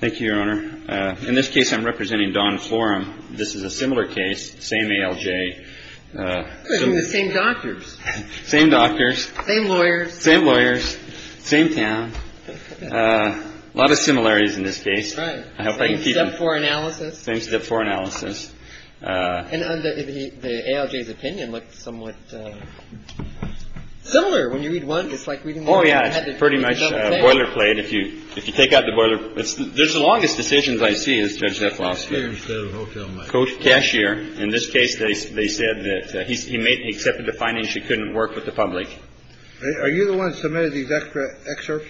Thank you, Your Honor. In this case, I'm representing Don Florem. This is a similar case, same ALJ, same doctors, same lawyers, same town, a lot of similarities in this case. I hope I can keep it. Right. Same step four analysis. Same step four analysis. And the ALJ's opinion looked somewhat similar. When you read one, it's like reading the other. A little bit of the same set of algorithms, it's very similar realization to this case. Anyway, it's very similar outcome. Okay. Your Honor, I would recommend this case. Lastly, judge if you want to bring it up before we go, Adam, please. Adam Healy Judge, any questions? Judge, any questions? Carried. We have time for questions. Supposedly you don't have long questions. That would be all right. whether they were published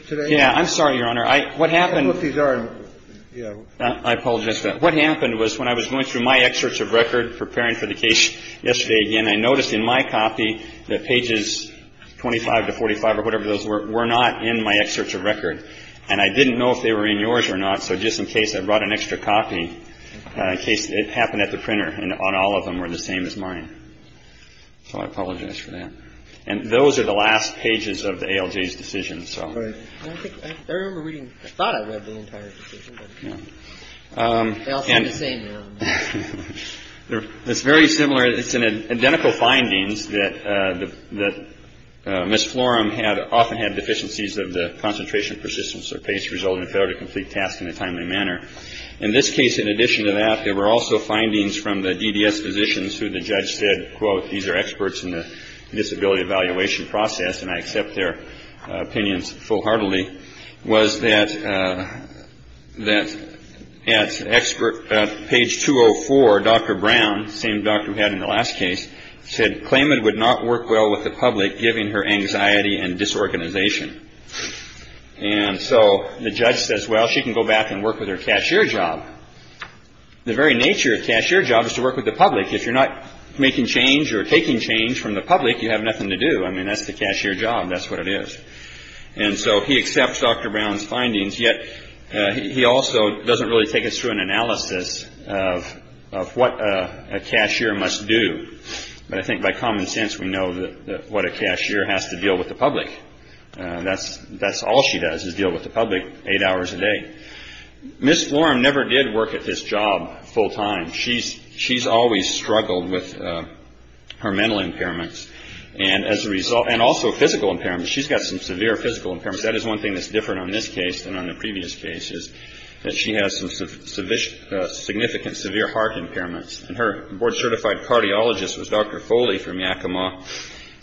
to the extract from 1685, whatever those were not in my excerpt of record and I didn't know if they were in yours or not. So just in case I brought an extra copy in case it happened at the printer and on all of them were the same as mine. So I apologize for that. And those are the last pages of the Algeria's decision. So I remember reading. I thought I read the entire decision. And it's very similar. It's an identical findings that that Miss Florum had often had deficiencies of the concentration, persistence or pace resulting in failure to complete tasks in a timely manner. In this case, in addition to that, there were also findings from the DDS physicians who the judge said, quote, these are experts in the disability evaluation process and I accept their opinions full heartedly. Was that that expert page two or four? Dr. Brown, same doctor who had in the last case said claimant would not work well with the public, giving her anxiety and disorganization. And so the judge says, well, she can go back and work with her cashier job. The very nature of cashier jobs to work with the public. If you're not making change or taking change from the public, you have nothing to do. I mean, that's the cashier job. That's what it is. And so he accepts Dr. Brown's findings. Yet he also doesn't really take us through an analysis of what a cashier must do. But I think by common sense, we know that what a cashier has to deal with the public. That's that's all she does is deal with the public eight hours a day. Miss Florum never did work at this job full time. She's she's always struggled with her mental impairments. And as a result, and also physical impairment, she's got some severe physical impairments. That is one thing that's different on this case than on the previous cases that she has some sufficient significant severe heart impairments. And her board certified cardiologist was Dr. Foley from Yakima.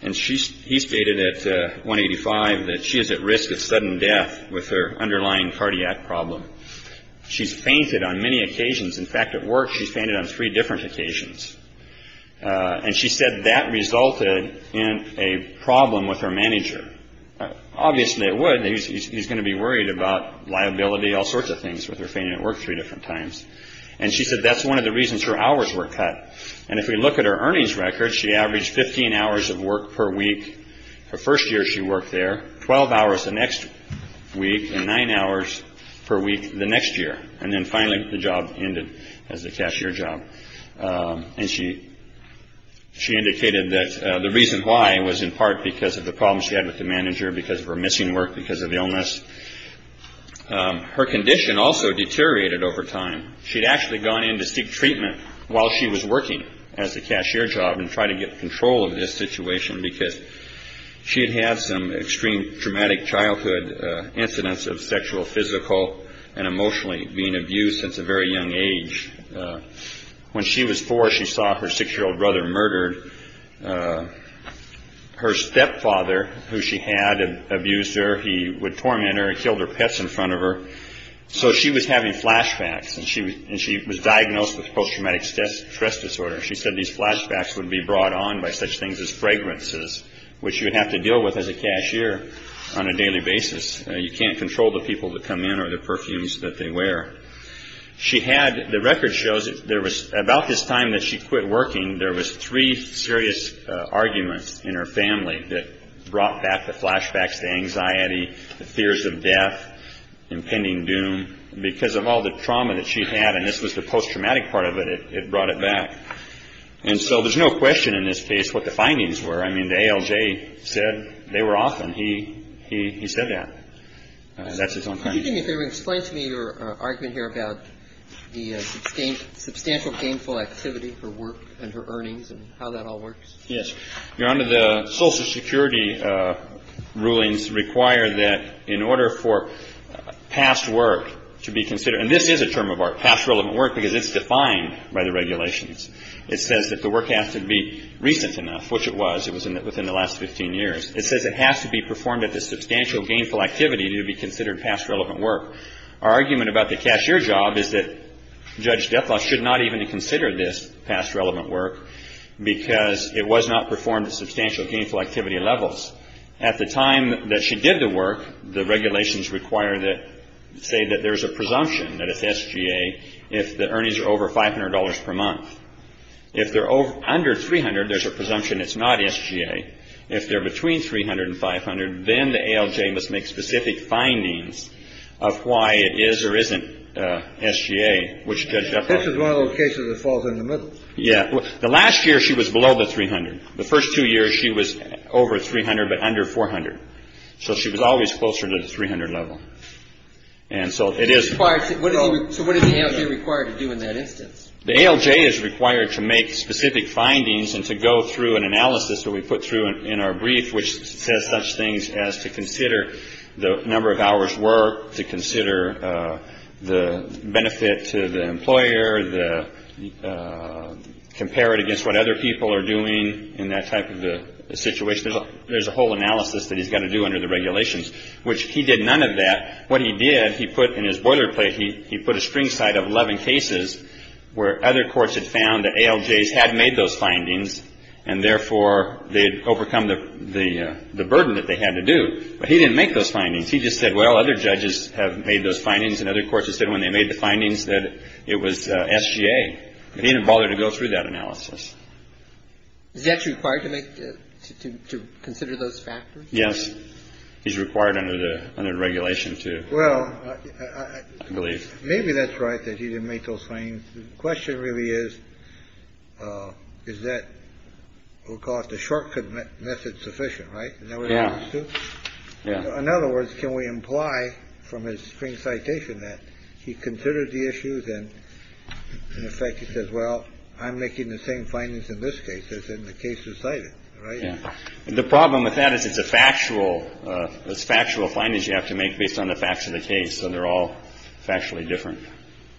And she he stated at one eighty five that she is at risk of sudden death with her underlying cardiac problem. She's fainted on many occasions. In fact, at work, she fainted on three different occasions. And she said that resulted in a problem with her manager. Obviously, it would. He's going to be worried about liability, all sorts of things with her fainting at work three different times. And she said that's one of the reasons her hours were cut. And if we look at her earnings record, she averaged 15 hours of work per week. Her first year, she worked there 12 hours the next week and nine hours per week the next year. And then finally the job ended as a cashier job. And she she indicated that the reason why was in part because of the problems she had with the manager because of her missing work, because of illness. Her condition also deteriorated over time. She'd actually gone in to seek treatment while she was working as a cashier job and try to get control of this situation, because she had had some extreme traumatic childhood incidents of sexual, physical and emotionally being abused since a very young age. When she was four, she saw her six year old brother murdered. Her stepfather, who she had abused her, he would torment her and killed her pets in front of her. So she was having flashbacks and she was and she was diagnosed with post-traumatic stress disorder. She said these flashbacks would be brought on by such things as fragrances, which you would have to deal with as a cashier on a daily basis. You can't control the people that come in or the perfumes that they wear. She had the record shows there was about this time that she quit working. There was three serious arguments in her family that brought back the flashbacks, the anxiety, the fears of death, impending doom, because of all the trauma that she had. And this was the post-traumatic part of it. It brought it back. And so there's no question in this case what the findings were. I mean, the ALJ said they were off. And he said that. That's his own opinion. Can you explain to me your argument here about the substantial gainful activity for work and her earnings and how that all works? Yes. Your Honor, the Social Security rulings require that in order for past work to be considered, and this is a term of art, past relevant work, because it's defined by the regulations. It says that the work has to be recent enough, which it was. It was within the last 15 years. It says it has to be performed at the substantial gainful activity to be considered past relevant work. Our argument about the cashier job is that Judge Dethoff should not even consider this past relevant work, because it was not performed at substantial gainful activity levels. At the time that she did the work, the regulations say that there's a presumption that it's SGA if the earnings are over $500 per month. If they're under $300, there's a presumption it's not SGA. If they're between $300 and $500, then the ALJ must make specific findings of why it is or isn't SGA, which Judge Dethoff- This is one of those cases that falls in the middle. Yeah. The last year, she was below the $300. The first two years, she was over $300 but under $400. So she was always closer to the $300 level. And so it is- So what is the ALJ required to do in that instance? The ALJ is required to make specific findings and to go through an analysis that we put through in our brief, which says such things as to consider the number of hours worked, to consider the benefit to the employer, compare it against what other people are doing in that type of a situation. There's a whole analysis that he's got to do under the regulations, which he did none of that. What he did, he put in his boilerplate, he put a string side of 11 cases where other courts had found that ALJs had made those findings and, therefore, they had overcome the burden that they had to do. But he didn't make those findings. He just said, well, other judges have made those findings and other courts have said when they made the findings that it was SGA. But he didn't bother to go through that analysis. Is he actually required to make the – to consider those factors? Yes. He's required under the regulation to. Well, I believe. Maybe that's right that he didn't make those findings. The question really is, is that – we'll call it the shortcut method sufficient, right? Yeah. In other words, can we imply from his spring citation that he considered the issues and, in effect, he says, well, I'm making the same findings in this case as in the cases cited, right? Yeah. The problem with that is it's a factual – it's factual findings you have to make based on the facts of the case. So they're all factually different.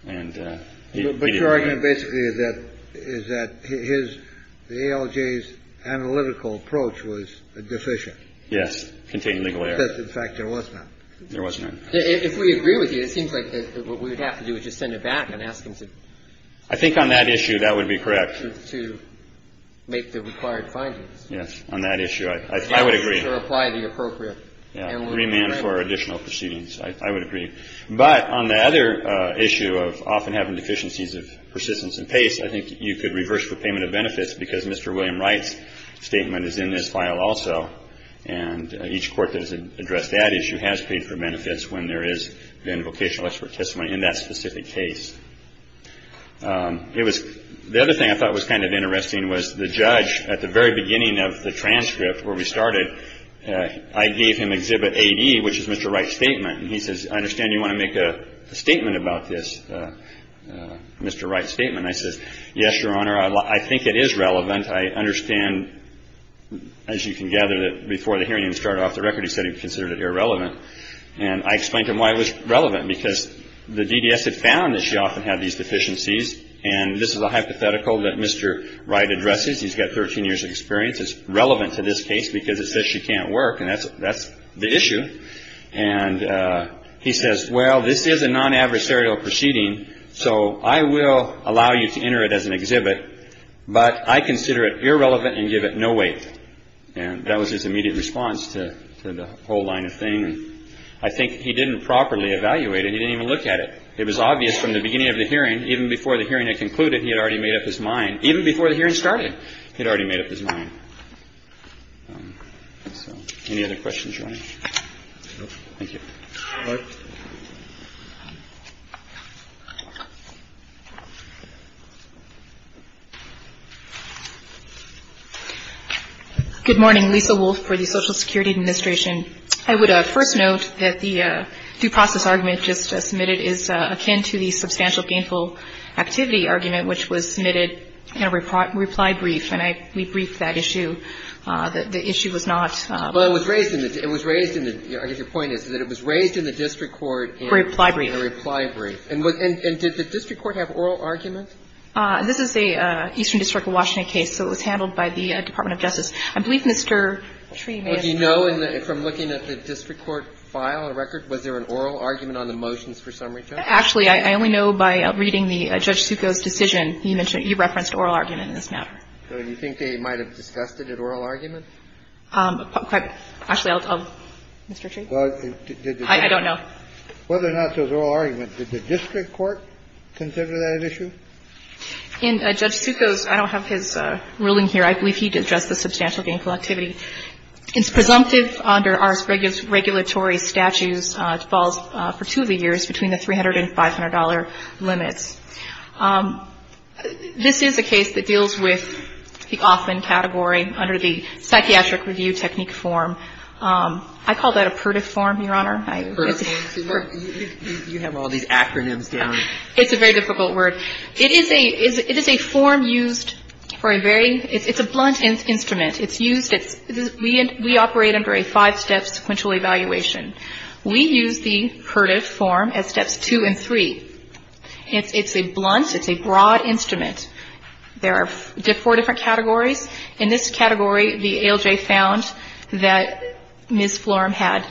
But your argument basically is that – is that his – the ALJ's analytical approach was deficient. Yes. Contained legal error. Because, in fact, there was none. There was none. If we agree with you, it seems like what we would have to do is just send it back and ask him to – I think on that issue that would be correct. To make the required findings. Yes. On that issue, I would agree. To apply the appropriate analytical approach. Remand for additional proceedings. I would agree. But on the other issue of often having deficiencies of persistence and pace, I think you could reverse for payment of benefits because Mr. William Wright's statement is in this file also. And each court that has addressed that issue has paid for benefits when there has been vocational expert testimony in that specific case. It was – the other thing I thought was kind of interesting was the judge at the very beginning of the transcript where we started, I gave him Exhibit AD, which is Mr. Wright's statement. And he says, I understand you want to make a statement about this, Mr. Wright's statement. I says, yes, Your Honor, I think it is relevant. I understand, as you can gather, that before the hearing even started off the record he said he considered it irrelevant. And I explained to him why it was relevant. Because the DDS had found that she often had these deficiencies. And this is a hypothetical that Mr. Wright addresses. He's got 13 years of experience. It's relevant to this case because it says she can't work. And that's the issue. And he says, well, this is a non-adversarial proceeding, so I will allow you to enter it as an exhibit. But I consider it irrelevant and give it no weight. And that was his immediate response to the whole line of thing. I think he didn't properly evaluate it. He didn't even look at it. It was obvious from the beginning of the hearing, even before the hearing had concluded, he had already made up his mind. Even before the hearing started, he had already made up his mind. Any other questions? Good morning. Lisa Wolf for the Social Security Administration. I would first note that the due process argument just submitted is akin to the substantial gainful activity argument, which was submitted in a reply brief. And we briefed that issue. The issue was not ---- Well, it was raised in the ---- I guess your point is that it was raised in the district court in ---- A reply brief. A reply brief. And did the district court have oral arguments? This is the Eastern District of Washington case, so it was handled by the Department of Justice. I believe Mr. Tree made a ---- Well, do you know from looking at the district court file and record, was there an oral argument on the motions for summary judge? Actually, I only know by reading Judge Succoe's decision. He referenced oral argument in this matter. So do you think they might have discussed it at oral argument? Actually, I'll ---- Mr. Tree? I don't know. Whether or not there was oral argument, did the district court consider that an issue? In Judge Succoe's ---- I don't have his ruling here. I believe he addressed the substantial gainful activity. It's presumptive under our regulatory statutes to fall for two of the years between the $300 and $500 limits. This is a case that deals with the Offman category under the psychiatric review technique form. I call that a PURDIF form, Your Honor. PURDIF form? You have all these acronyms down. It's a very difficult word. It is a form used for a very ---- it's a blunt instrument. It's used as ---- we operate under a five-step sequential evaluation. We use the PURDIF form as steps two and three. It's a blunt, it's a broad instrument. There are four different categories. In this category, the ALJ found that Ms. Florham had ----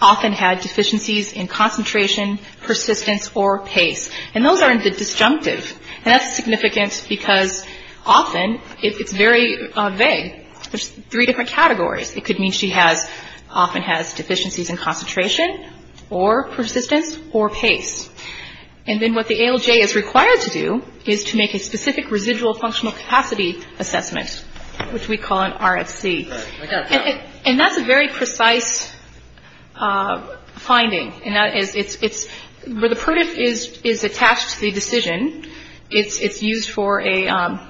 often had deficiencies in concentration, persistence or pace. And those are in the disjunctive. And that's significant because often it's very vague. There's three different categories. It could mean she has ---- often has deficiencies in concentration or persistence or pace. And then what the ALJ is required to do is to make a specific residual functional capacity assessment, which we call an RFC. And that's a very precise finding. It's ---- where the PURDIF is attached to the decision, it's used for a ----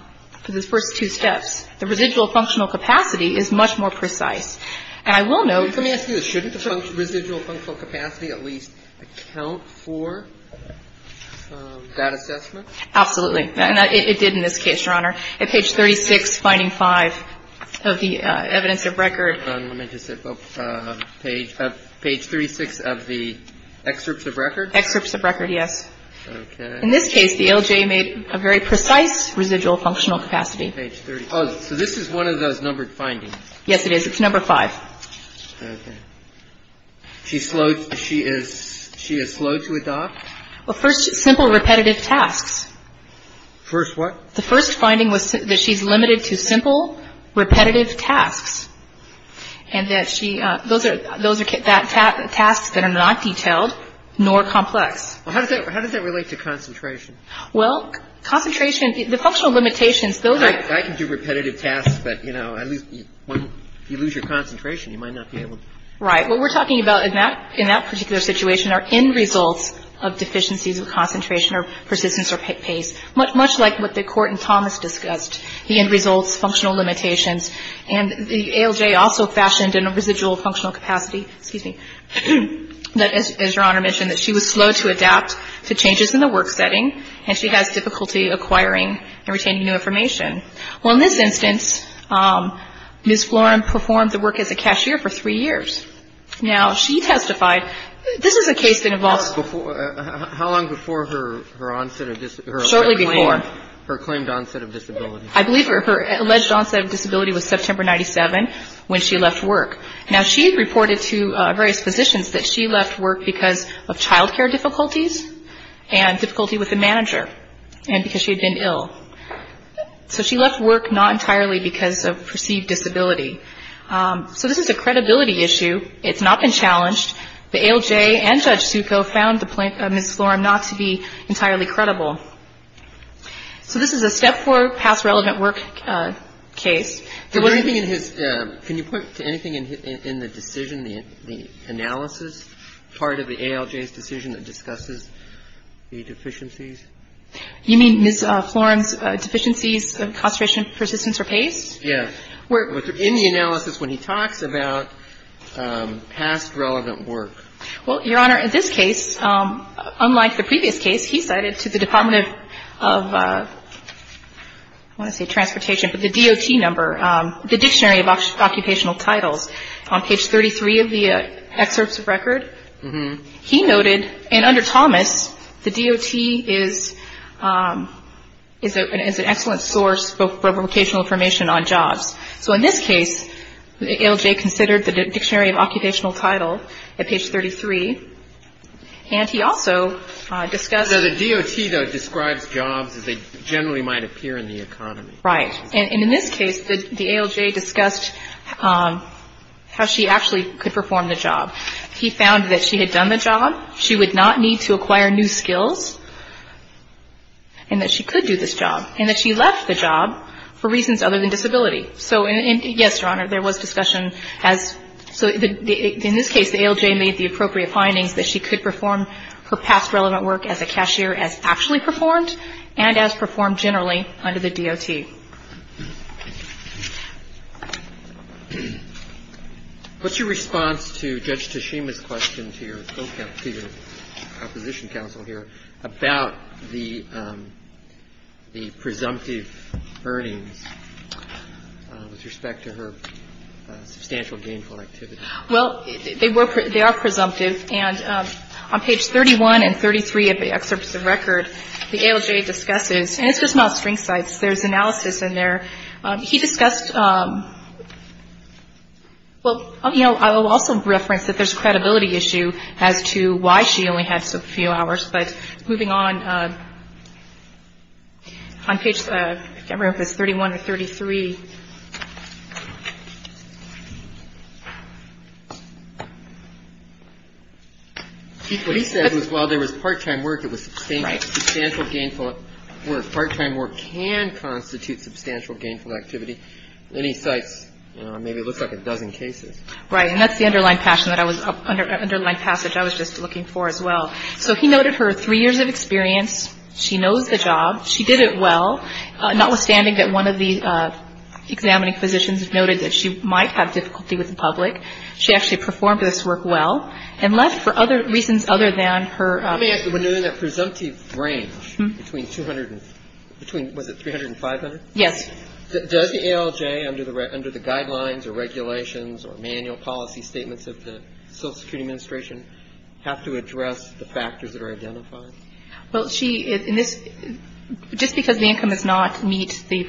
for the first two steps. The residual functional capacity is much more precise. And I will note ---- Roberts, Jr. Let me ask you this. Shouldn't the residual functional capacity at least account for that assessment? Kagan Absolutely. And it did in this case, Your Honor. At page 36, finding five of the evidence of record ---- Roberts, Jr. Let me just ---- page 36 of the excerpts of record? Kagan Excerpts of record, yes. Roberts, Jr. Okay. Kagan In this case, the ALJ made a very precise residual functional capacity. Roberts, Jr. Page 36. So this is one of those numbered findings. Kagan Yes, it is. It's number five. Roberts, Jr. Okay. She is slow to adopt? Kagan Well, first, simple repetitive tasks. Roberts, Jr. First what? Kagan The first finding was that she's limited to simple repetitive tasks and that she ---- those are tasks that are not detailed nor complex. Roberts, Jr. How does that relate to concentration? Kagan Well, concentration, the functional limitations, those are ---- Roberts, Jr. I can do repetitive tasks, but, you know, at least when you lose your concentration, you might not be able to. Kagan Right. What we're talking about in that particular situation are end results of deficiencies of concentration or persistence or pace, much like what the Court in Thomas discussed, the end results, functional limitations. And the ALJ also fashioned in a residual functional capacity, excuse me, that as Your and she has difficulty acquiring and retaining new information. Well, in this instance, Ms. Floren performed the work as a cashier for three years. Now, she testified ---- this is a case that involves ---- Roberts, Jr. How long before her onset of ---- Kagan Shortly before. Roberts, Jr. Her claimed onset of disability. Kagan I believe her alleged onset of disability was September 97 when she left work. Now, she reported to various physicians that she left work because of child care difficulties and difficulty with the manager and because she had been ill. So she left work not entirely because of perceived disability. So this is a credibility issue. It's not been challenged. The ALJ and Judge Succo found Ms. Floren not to be entirely credible. So this is a step four past relevant work case. Can you point to anything in the decision, the analysis, part of the ALJ's decision that discusses the deficiencies? You mean Ms. Floren's deficiencies, concentration, persistence or pace? Yes. In the analysis when he talks about past relevant work. Well, Your Honor, in this case, unlike the previous case, he cited to the Department of, I want to say transportation, but the DOT number, the Dictionary of Occupational Titles. On page 33 of the excerpts of record, he noted, and under Thomas, the DOT is an excellent source for vocational information on jobs. So in this case, the ALJ considered the Dictionary of Occupational Title at page 33. And he also discussed. The DOT, though, describes jobs as they generally might appear in the economy. Right. And in this case, the ALJ discussed how she actually could perform the job. He found that she had done the job. She would not need to acquire new skills, and that she could do this job, and that she left the job for reasons other than disability. So, yes, Your Honor, there was discussion. So in this case, the ALJ made the appropriate findings that she could perform her past relevant work as a cashier as actually performed and as performed generally under the DOT. What's your response to Judge Tashima's question to your opposition counsel here about the presumptive earnings with respect to her substantial gainful activity? Well, they are presumptive. And on page 31 and 33 of the excerpts of record, the ALJ discusses. And it's just not string sites. There's analysis in there. He discussed. Well, you know, I will also reference that there's a credibility issue as to why she only had a few hours. But moving on, on page 31 or 33. What he said was while there was part-time work, it was substantial gainful work. Part-time work can constitute substantial gainful activity. And he cites maybe it looks like a dozen cases. Right. And that's the underlined passage I was just looking for as well. So he noted her three years of experience. She knows the job. She did it well. Notwithstanding that one of the examining physicians noted that she might have difficulty with the public. She actually performed this work well and left for other reasons other than her. Let me ask you, when doing that presumptive range between 200 and between, was it 300 and 500? Yes. Does the ALJ under the guidelines or regulations or manual policy statements of the Social Security Administration have to address the factors that are identified? Well, she, in this, just because the income does not meet the,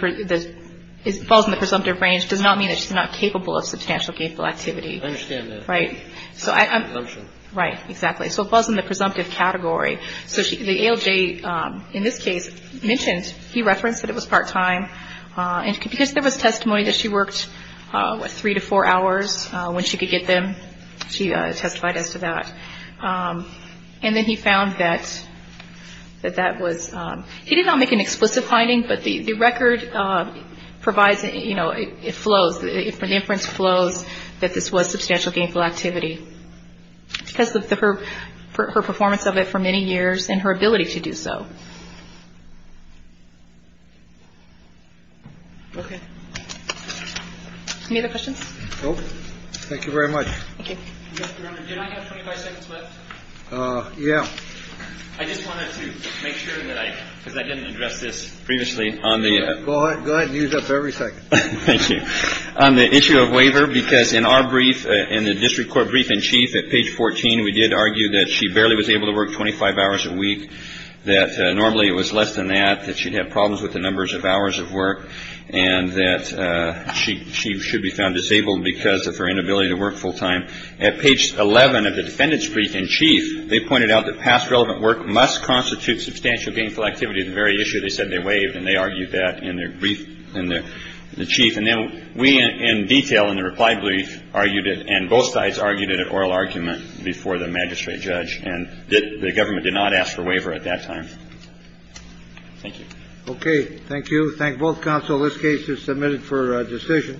falls in the presumptive range, does not mean that she's not capable of substantial gainful activity. I understand that. Right. Right. Exactly. So it falls in the presumptive category. So the ALJ, in this case, mentioned, he referenced that it was part-time. And because there was testimony that she worked, what, three to four hours when she could get them, she testified as to that. And then he found that that was, he did not make an explicit finding, but the record provides, you know, it flows. The inference flows that this was substantial gainful activity. Because of her performance of it for many years and her ability to do so. Okay. Any other questions? No. Thank you very much. Thank you. Did I have 25 seconds left? Yeah. I just wanted to make sure that I, because I didn't address this previously on the. Go ahead and use up every second. Thank you. On the issue of waiver, because in our brief, in the district court brief in chief at page 14, we did argue that she barely was able to work 25 hours a week, that normally it was less than that, that she'd have problems with the numbers of hours of work, and that she she should be found disabled because of her inability to work full time. At page 11 of the defendant's brief in chief, they pointed out that past relevant work must constitute substantial gainful activity. The very issue they said they waived. And they argued that in their brief and the chief. And then we in detail in the reply brief argued it. And both sides argued it at oral argument before the magistrate judge. And the government did not ask for waiver at that time. Thank you. Thank you. Thank both counsel. This case is submitted for decision.